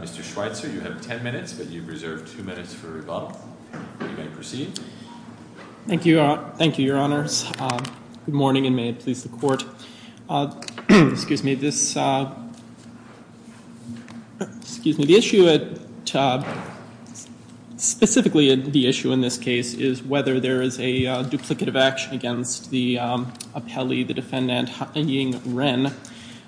Mr. Schweitzer, you have 10 minutes, but you have reserved 2 minutes for rebuttal. You may proceed. Thank you. Thank you, Your Honors. Good morning, and may it please the Court. Excuse me, this, excuse me, the issue at, specifically the issue in this case is whether there is a duplicative action against the appellee, the defendant, Ying Ren,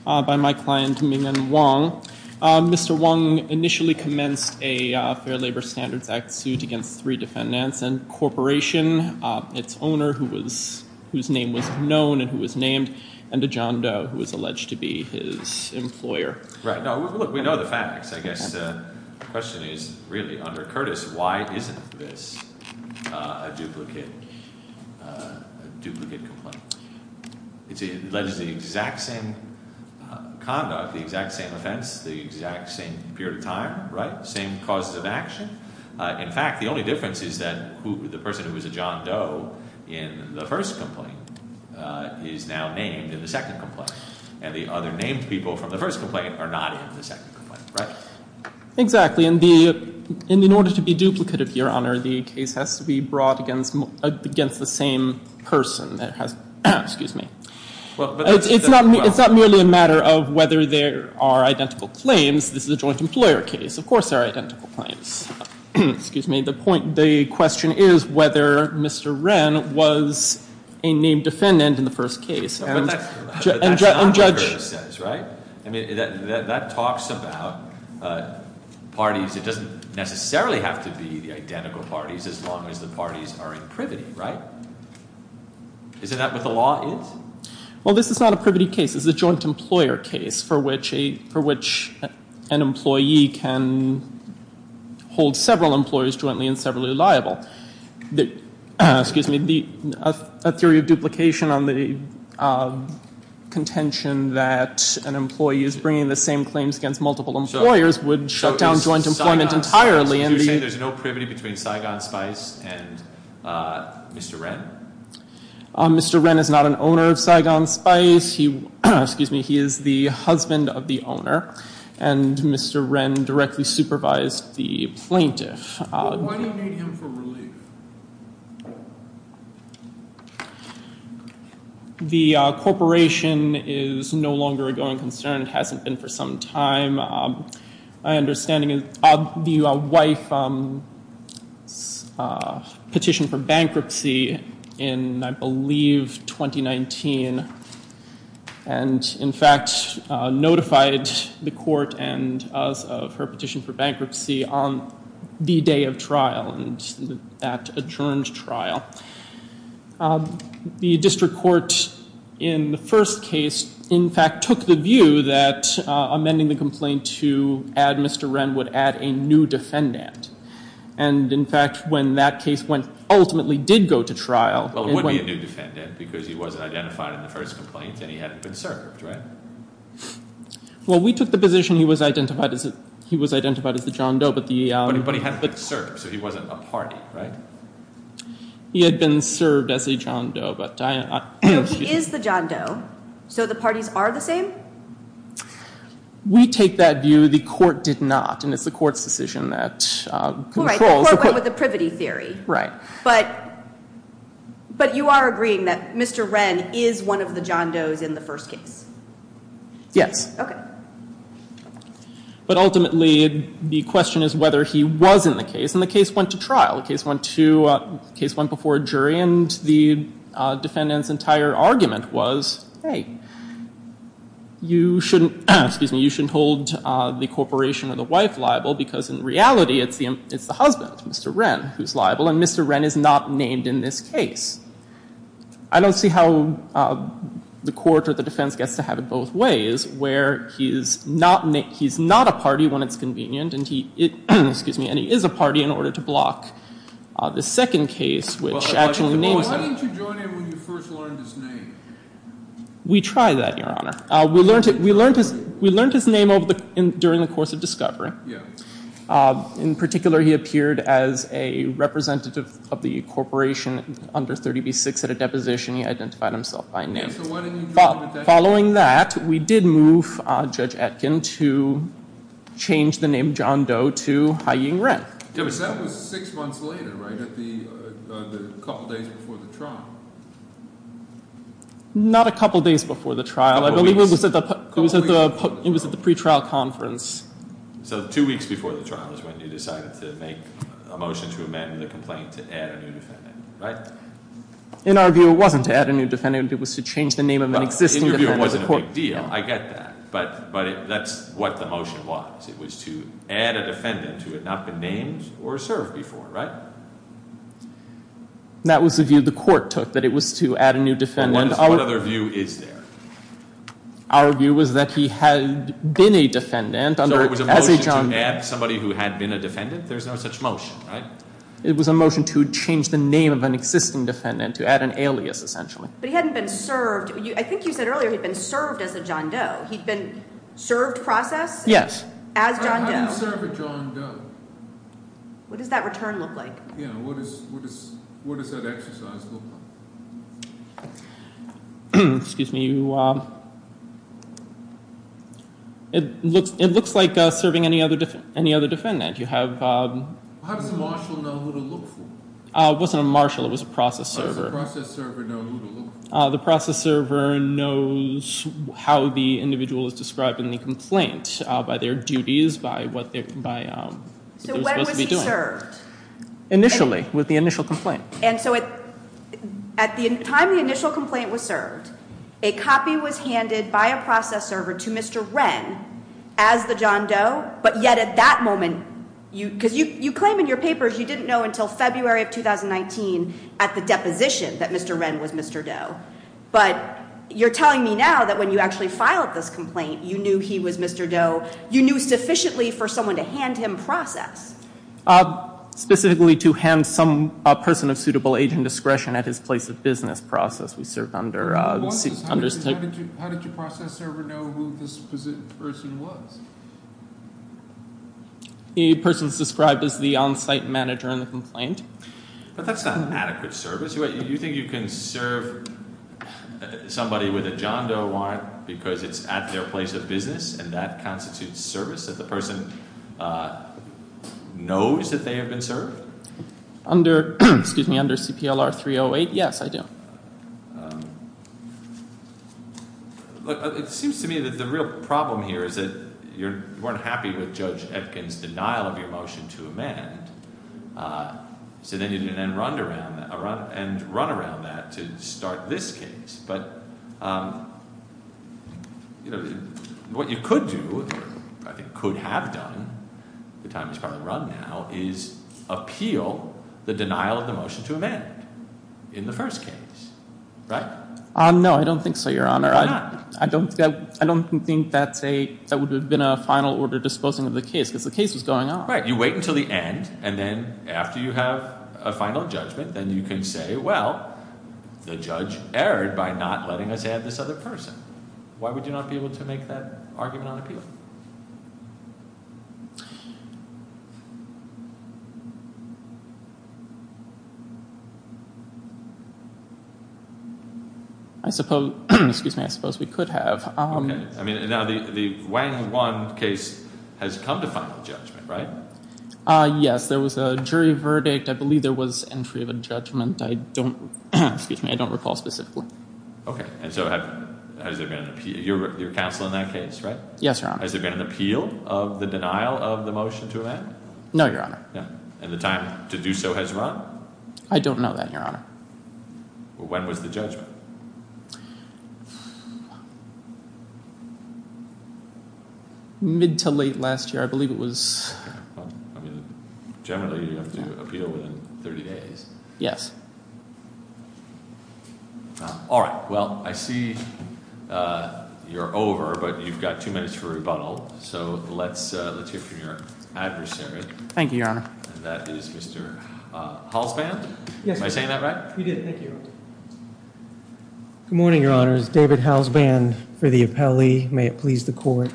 by my client Ming-En Wang. Mr. Wang initially commenced a Fair Labor Standards Act suit against three defendants and Corporation, its owner, whose name was known and who was named, and to John Doe, who was alleged to be his employer. Right. Now, look, we know the facts. I guess the question is, really, under Curtis, why isn't this a duplicate complaint? It alleges the exact same conduct, the exact same offense, the exact same period of time, right, same causes of action. In fact, the only difference is that the person who was a John Doe in the first complaint is now named in the second complaint, and the other named people from the first complaint are not in the second complaint, right? Exactly, and in order to be duplicative, Your Honor, the case has to be brought against the same person that has, excuse me. It's not merely a matter of whether there are identical claims. This is a joint employer case. Of course there are identical claims. Excuse me, the point, the question is whether Mr. Ren was a named defendant in the first case. But that's not what Curtis says, right? I mean, that talks about parties. It doesn't necessarily have to be the identical parties as long as the parties are in privity, right? Isn't that what the law is? Well, this is not a privity case. It's a joint employer case for which an employee can hold several employers jointly and several are liable. Excuse me, a theory of duplication on the contention that an employee is bringing the same claims against multiple employers would shut down joint employment entirely. So you're saying there's no privity between Saigon Spice and Mr. Ren? Mr. Ren is not an owner of Saigon Spice. He is the husband of the owner, and Mr. Ren directly supervised the plaintiff. Why do you need him for relief? The corporation is no longer a going concern. It hasn't been for some time. My understanding is the wife petitioned for bankruptcy in, I believe, 2019 and, in fact, notified the court and us of her petition for bankruptcy on the day of trial and that adjourned trial. The district court in the first case, in fact, took the view that amending the complaint to add Mr. Ren would add a new defendant. And, in fact, when that case ultimately did go to trial... Well, it would be a new defendant because he wasn't identified in the first complaint and he hadn't been served, right? Well, we took the position he was identified as the John Doe, but the... But he hadn't been served, so he wasn't a party, right? He had been served as a John Doe, but... No, he is the John Doe, so the parties are the same? We take that view. The court did not, and it's the court's decision that controls... Well, right, the court went with the privity theory. Right. But you are agreeing that Mr. Ren is one of the John Does in the first case? Yes. Okay. But, ultimately, the question is whether he was in the case, and the case went to trial. The case went before a jury, and the defendant's entire argument was, hey, you shouldn't hold the corporation or the wife liable because, in reality, it's the husband, Mr. Ren, who's liable, and Mr. Ren is not named in this case. I don't see how the court or the defense gets to have it both ways, where he's not a party when it's convenient, and he is a party in order to block the second case, which actually names him. Why didn't you join him when you first learned his name? We tried that, Your Honor. We learned his name during the course of discovery. In particular, he appeared as a representative of the corporation under 30b-6 at a deposition. He identified himself by name. So why didn't you join him at that point? Following that, we did move Judge Etkin to change the name John Doe to Haiying Ren. Because that was six months later, right, a couple days before the trial. Not a couple days before the trial. A couple weeks. It was at the pretrial conference. So two weeks before the trial is when you decided to make a motion to amend the complaint to add a new defendant, right? In our view, it wasn't to add a new defendant. It was to change the name of an existing defendant. In your view, it wasn't a big deal. I get that. But that's what the motion was. It was to add a defendant who had not been named or served before, right? That was the view the court took, that it was to add a new defendant. What other view is there? Our view was that he had been a defendant as a John Doe. So it was a motion to add somebody who had been a defendant? There's no such motion, right? It was a motion to change the name of an existing defendant, to add an alias, essentially. But he hadn't been served. I think you said earlier he'd been served as a John Doe. He'd been served process? Yes. As John Doe. How do you serve a John Doe? What does that return look like? What does that exercise look like? Excuse me. It looks like serving any other defendant. How does a marshal know who to look for? It wasn't a marshal. It was a process server. How does a process server know who to look for? The process server knows how the individual is described in the complaint, by their duties, by what they're supposed to be doing. So when was he served? Initially, with the initial complaint. And so at the time the initial complaint was served, a copy was handed by a process server to Mr. Wren as the John Doe, but yet at that moment, because you claim in your papers you didn't know until February of 2019 at the deposition that Mr. Wren was Mr. Doe. But you're telling me now that when you actually filed this complaint, you knew he was Mr. Doe. You knew sufficiently for someone to hand him process. Specifically to hand some person of suitable age and discretion at his place of business process. How did your process server know who this person was? A person is described as the on-site manager in the complaint. But that's not an adequate service. You think you can serve somebody with a John Doe warrant because it's at their place of business, and that constitutes service if the person knows that they have been served? Under CPLR 308, yes, I do. It seems to me that the real problem here is that you weren't happy with Judge Epkin's denial of your motion to amend. So then you run around that to start this case. But what you could do, or I think could have done at the time he's probably run now, is appeal the denial of the motion to amend in the first case, right? No, I don't think so, Your Honor. Why not? I don't think that would have been a final order disposing of the case, because the case was going on. Right. You wait until the end, and then after you have a final judgment, then you can say, well, the judge erred by not letting us add this other person. Why would you not be able to make that argument on appeal? I suppose we could have. Okay. Now, the Wang-Wan case has come to final judgment, right? Yes. There was a jury verdict. I believe there was entry of a judgment. I don't recall specifically. Okay. And so has there been an appeal? You're counsel in that case, right? Yes, Your Honor. Has there been an appeal of the denial of the motion to amend? No, Your Honor. And the time to do so has run? I don't know that, Your Honor. When was the judgment? Mid to late last year, I believe it was. Generally, you have to appeal within 30 days. Yes. All right. Well, I see you're over, but you've got two minutes for rebuttal. So let's hear from your adversary. Thank you, Your Honor. And that is Mr. Halsband. Yes. Am I saying that right? You did. Thank you, Your Honor. Good morning, Your Honors. David Halsband for the appellee. May it please the Court.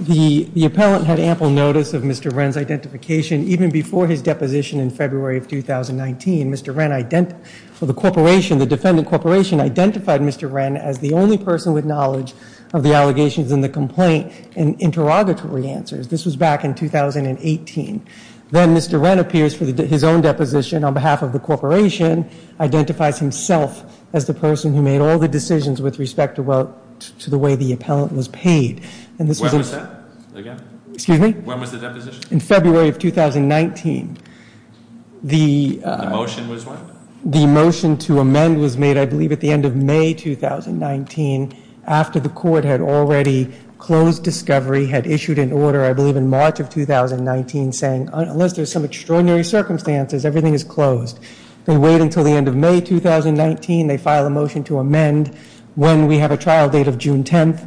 The appellant had ample notice of Mr. Wren's identification. Even before his deposition in February of 2019, Mr. Wren, the corporation, the defendant corporation, identified Mr. Wren as the only person with knowledge of the allegations in the complaint and interrogatory answers. This was back in 2018. Then Mr. Wren appears for his own deposition on behalf of the corporation, identifies himself as the person who made all the decisions with respect to the way the appellant was paid. When was that? Excuse me? When was the deposition? In February of 2019. The motion was what? The motion to amend was made, I believe, at the end of May 2019, after the court had already closed discovery, had issued an order, I believe in March of 2019, saying, unless there's some extraordinary circumstances, everything is closed. They wait until the end of May 2019. They file a motion to amend when we have a trial date of June 10th.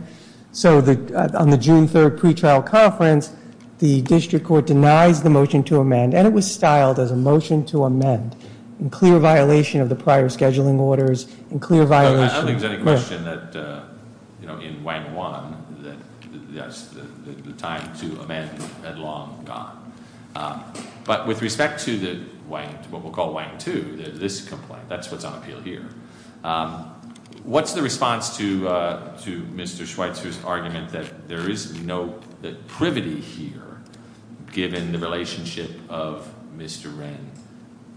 So on the June 3rd pre-trial conference, the district court denies the motion to amend, and it was styled as a motion to amend in clear violation of the prior scheduling orders, in clear violation. I don't think there's any question that in Wang 1, that the time to amend had long gone. But with respect to what we'll call Wang 2, this complaint, that's what's on appeal here. What's the response to Mr. Schweitzer's argument that there is no privity here, given the relationship of Mr. Ren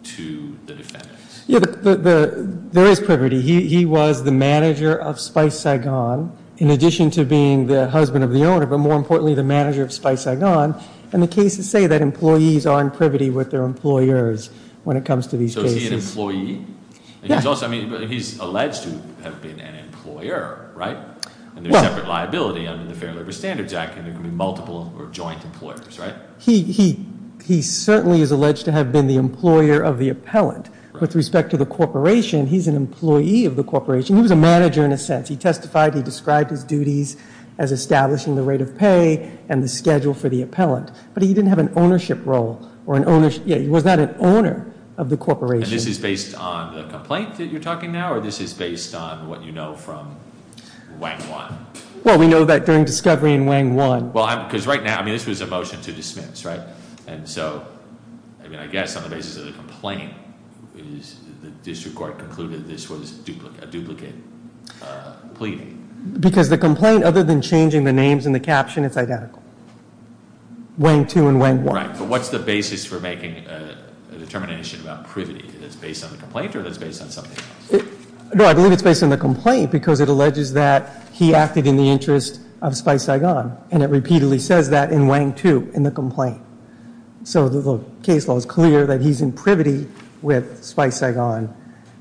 to the defendants? There is privity. He was the manager of Spice Saigon, in addition to being the husband of the owner, but more importantly, the manager of Spice Saigon. And the cases say that employees are in privity with their employers when it comes to these cases. Is he an employee? He's alleged to have been an employer, right? And there's separate liability under the Fair Labor Standards Act, and there can be multiple or joint employers, right? He certainly is alleged to have been the employer of the appellant. With respect to the corporation, he's an employee of the corporation. He was a manager in a sense. He testified, he described his duties as establishing the rate of pay and the schedule for the appellant. But he didn't have an ownership role. He was not an owner of the corporation. And this is based on the complaint that you're talking now, or this is based on what you know from Wang 1? Well, we know that during discovery in Wang 1. Well, because right now, I mean, this was a motion to dismiss, right? And so, I mean, I guess on the basis of the complaint, the district court concluded this was a duplicate plea. Because the complaint, other than changing the names in the caption, it's identical. Wang 2 and Wang 1. Right, but what's the basis for making a determination about privity? Is it based on the complaint or is it based on something else? No, I believe it's based on the complaint because it alleges that he acted in the interest of Spice Saigon. And it repeatedly says that in Wang 2 in the complaint. So the case law is clear that he's in privity with Spice Saigon.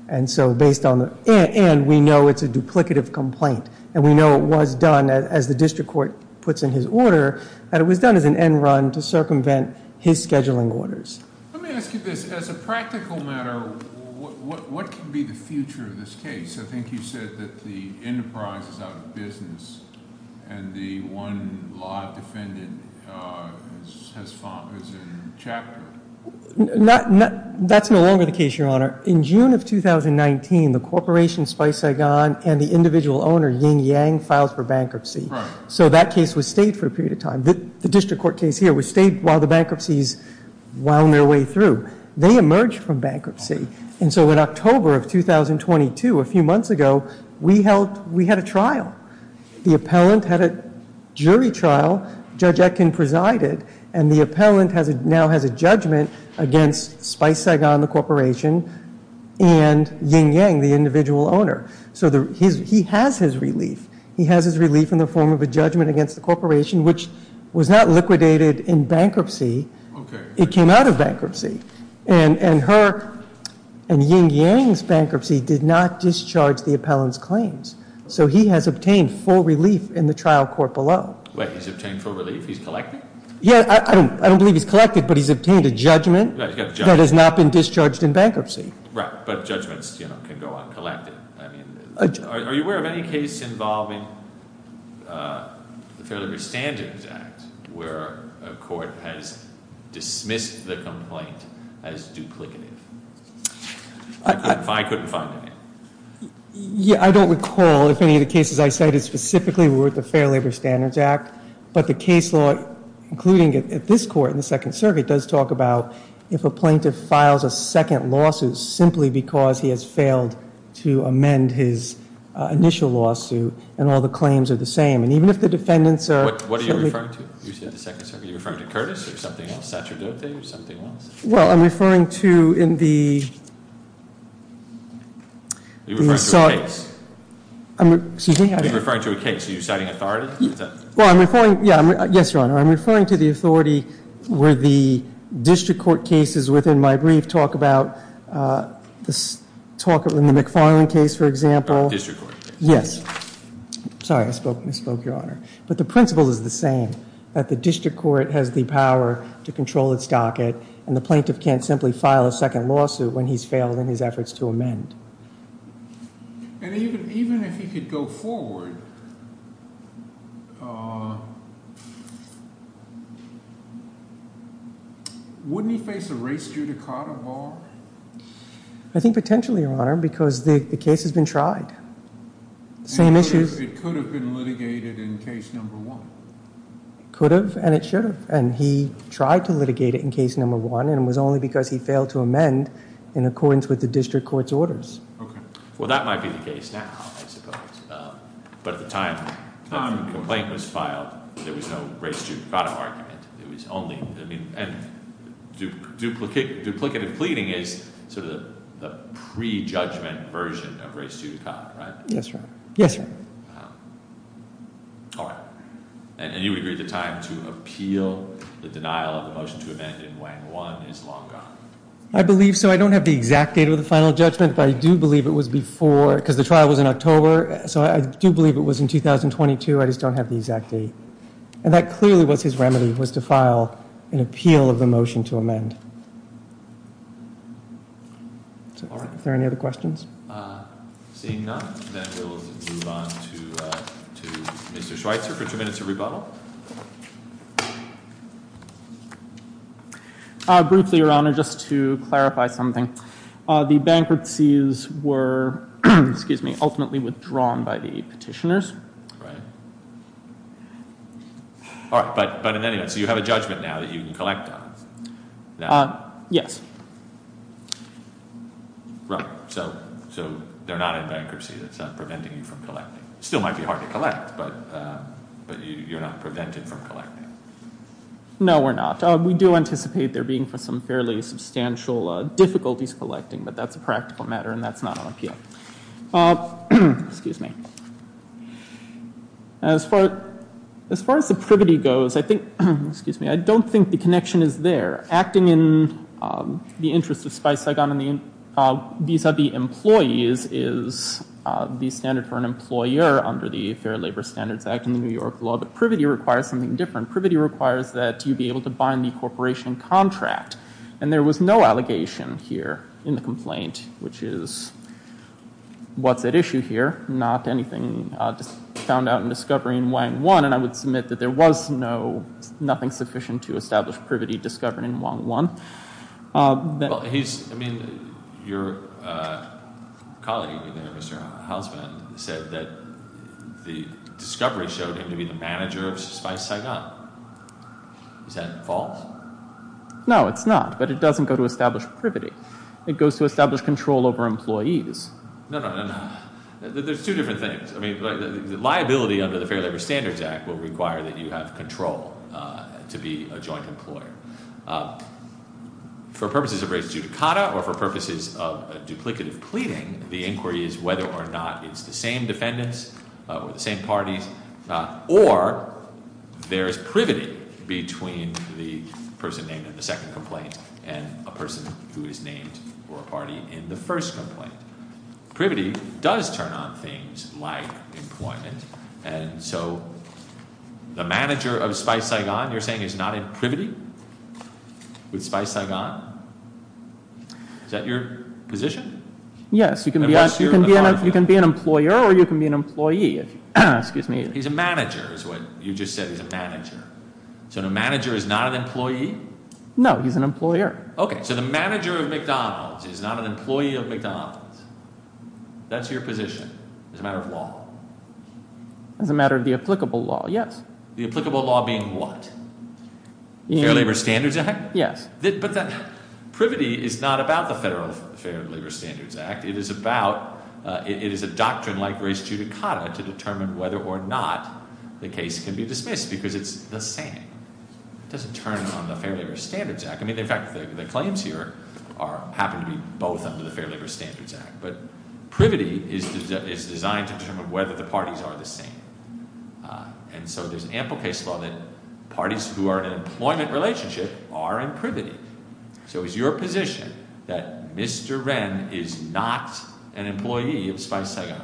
And so based on the end, we know it's a duplicative complaint. And we know it was done, as the district court puts in his order, that it was done as an end run to circumvent his scheduling orders. Let me ask you this. As a practical matter, what could be the future of this case? I think you said that the enterprise is out of business and the one law defendant is in chapter. That's no longer the case, Your Honor. In June of 2019, the corporation, Spice Saigon, and the individual owner, Ying Yang, filed for bankruptcy. So that case was stayed for a period of time. The district court case here was stayed while the bankruptcy is on their way through. They emerged from bankruptcy. And so in October of 2022, a few months ago, we had a trial. The appellant had a jury trial. Judge Etkin presided. And the appellant now has a judgment against Spice Saigon, the corporation, and Ying Yang, the individual owner. So he has his relief. He has his relief in the form of a judgment against the corporation, which was not liquidated in bankruptcy. It came out of bankruptcy. And her and Ying Yang's bankruptcy did not discharge the appellant's claims. So he has obtained full relief in the trial court below. Wait, he's obtained full relief? He's collected? Yeah, I don't believe he's collected, but he's obtained a judgment that has not been discharged in bankruptcy. Right, but judgments, you know, can go uncollected. Are you aware of any case involving the Fair Labor Standards Act, where a court has dismissed the complaint as duplicative? I couldn't find any. Yeah, I don't recall if any of the cases I cited specifically were with the Fair Labor Standards Act. But the case law, including at this court in the Second Circuit, does talk about if a plaintiff files a second lawsuit simply because he has failed to amend his initial lawsuit and all the claims are the same. And even if the defendants are ---- What are you referring to? You said the Second Circuit. Are you referring to Curtis or something else, Satrodote or something else? Well, I'm referring to in the ---- Are you referring to a case? Excuse me? Are you referring to a case? Are you citing authority? Well, I'm referring, yes, Your Honor. I'm referring to the authority where the district court cases within my brief talk about the McFarland case, for example. The district court case. Yes. Sorry, I misspoke, Your Honor. But the principle is the same, that the district court has the power to control its docket and the plaintiff can't simply file a second lawsuit when he's failed in his efforts to amend. And even if he could go forward, wouldn't he face a race judicata bar? I think potentially, Your Honor, because the case has been tried. The same issue ---- It could have been litigated in case number one. It could have and it should have. And he tried to litigate it in case number one and it was only because he failed to amend in accordance with the district court's orders. Okay. Well, that might be the case now, I suppose. But at the time the complaint was filed, there was no race judicata argument. It was only, I mean, and duplicative pleading is sort of the prejudgment version of race judicata, right? Yes, Your Honor. Yes, Your Honor. All right. And you would agree the time to appeal the denial of the motion to amend in Wang 1 is long gone? I believe so. I don't have the exact date of the final judgment, but I do believe it was before because the trial was in October. So I do believe it was in 2022. I just don't have the exact date. And that clearly was his remedy, was to file an appeal of the motion to amend. All right. Are there any other questions? Seeing none, then we'll move on to Mr. Schweitzer for two minutes of rebuttal. Briefly, Your Honor, just to clarify something. The bankruptcies were ultimately withdrawn by the petitioners. Right. All right. But in any event, so you have a judgment now that you can collect on? Yes. Right. So they're not in bankruptcy. That's not preventing you from collecting. It still might be hard to collect, but you're not prevented from collecting. No, we're not. We do anticipate there being some fairly substantial difficulties collecting, but that's a practical matter and that's not on appeal. Excuse me. As far as the privity goes, I think, excuse me, I don't think the connection is there. Acting in the interest of Spice-Sigon vis-a-vis employees is the standard for an employer under the Fair Labor Standards Act and the New York law. But privity requires something different. Privity requires that you be able to bind the corporation contract. And there was no allegation here in the complaint, which is what's at issue here, not anything found out in discovery in Wang 1. And I would submit that there was nothing sufficient to establish privity discovered in Wang 1. Well, he's, I mean, your colleague there, Mr. Housman, said that the discovery showed him to be the manager of Spice-Sigon. Is that false? No, it's not. But it doesn't go to establish privity. It goes to establish control over employees. No, no, no, no. There's two different things. I mean, liability under the Fair Labor Standards Act will require that you have control to be a joint employer. For purposes of res judicata or for purposes of duplicative pleading, the inquiry is whether or not it's the same defendants or the same parties, or there is privity between the person named in the second complaint and a person who is named or a party in the first complaint. Privity does turn on things like employment. And so the manager of Spice-Sigon, you're saying, is not in privity with Spice-Sigon? Is that your position? Yes. You can be an employer or you can be an employee. Excuse me. He's a manager is what you just said. He's a manager. So the manager is not an employee? No, he's an employer. Okay, so the manager of McDonald's is not an employee of McDonald's. That's your position as a matter of law? As a matter of the applicable law, yes. The applicable law being what? Fair Labor Standards Act? Yes. But that privity is not about the Federal Fair Labor Standards Act. It is about – it is a doctrine like res judicata to determine whether or not the case can be dismissed because it's the same. It doesn't turn on the Fair Labor Standards Act. I mean, in fact, the claims here happen to be both under the Fair Labor Standards Act. But privity is designed to determine whether the parties are the same. And so there's ample case law that parties who are in an employment relationship are in privity. So is your position that Mr. Wren is not an employee of Spice-Sigon?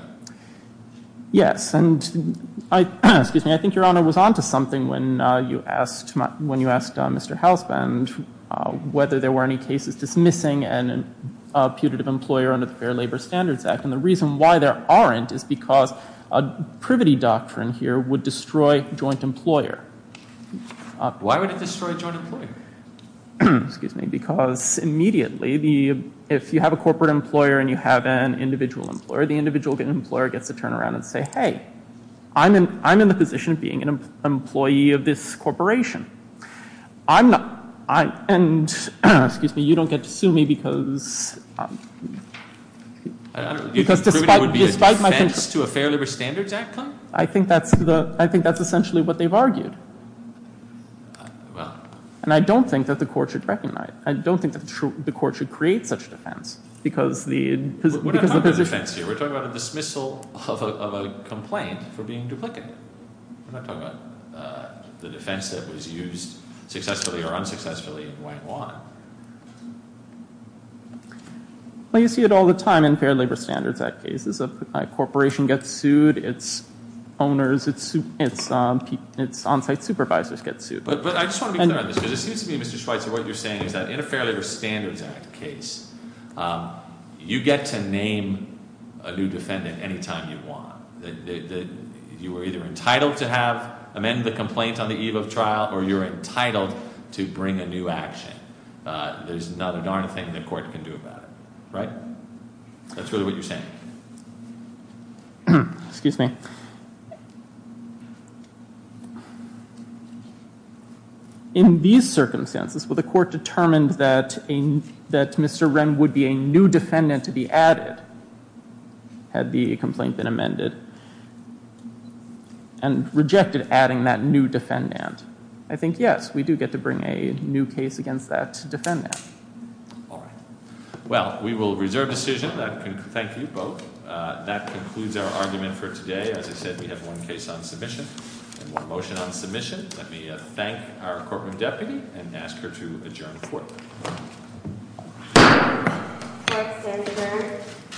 Yes. And I think Your Honor was on to something when you asked Mr. Hausband whether there were any cases dismissing a putative employer under the Fair Labor Standards Act. And the reason why there aren't is because a privity doctrine here would destroy a joint employer. Why would it destroy a joint employer? Excuse me. Because immediately, if you have a corporate employer and you have an individual employer, the individual employer gets to turn around and say, hey, I'm in the position of being an employee of this corporation. I'm not. And, excuse me, you don't get to sue me because – I don't know. Privity would be a defense to a Fair Labor Standards Act claim? I think that's essentially what they've argued. Well – And I don't think that the court should recognize it. I don't think that the court should create such defense because the position – We're not talking about defense here. We're talking about a dismissal of a complaint for being duplicative. We're not talking about the defense that was used successfully or unsuccessfully and why and what. Well, you see it all the time in Fair Labor Standards Act cases. A corporation gets sued, its owners, its on-site supervisors get sued. But I just want to be clear on this because it seems to me, Mr. Schweitzer, what you're saying is that in a Fair Labor Standards Act case, you get to name a new defendant anytime you want. You are either entitled to have – amend the complaint on the eve of trial or you're entitled to bring a new action. There's not a darn thing the court can do about it. Right? That's really what you're saying. Excuse me. In these circumstances, will the court determine that Mr. Wren would be a new defendant to be added, had the complaint been amended, and rejected adding that new defendant? I think yes. We do get to bring a new case against that defendant. All right. Well, we will reserve decision. Thank you both. That concludes our argument for today. As I said, we have one case on submission and one motion on submission. Let me thank our courtroom deputy and ask her to adjourn the court. Thank you, Senator.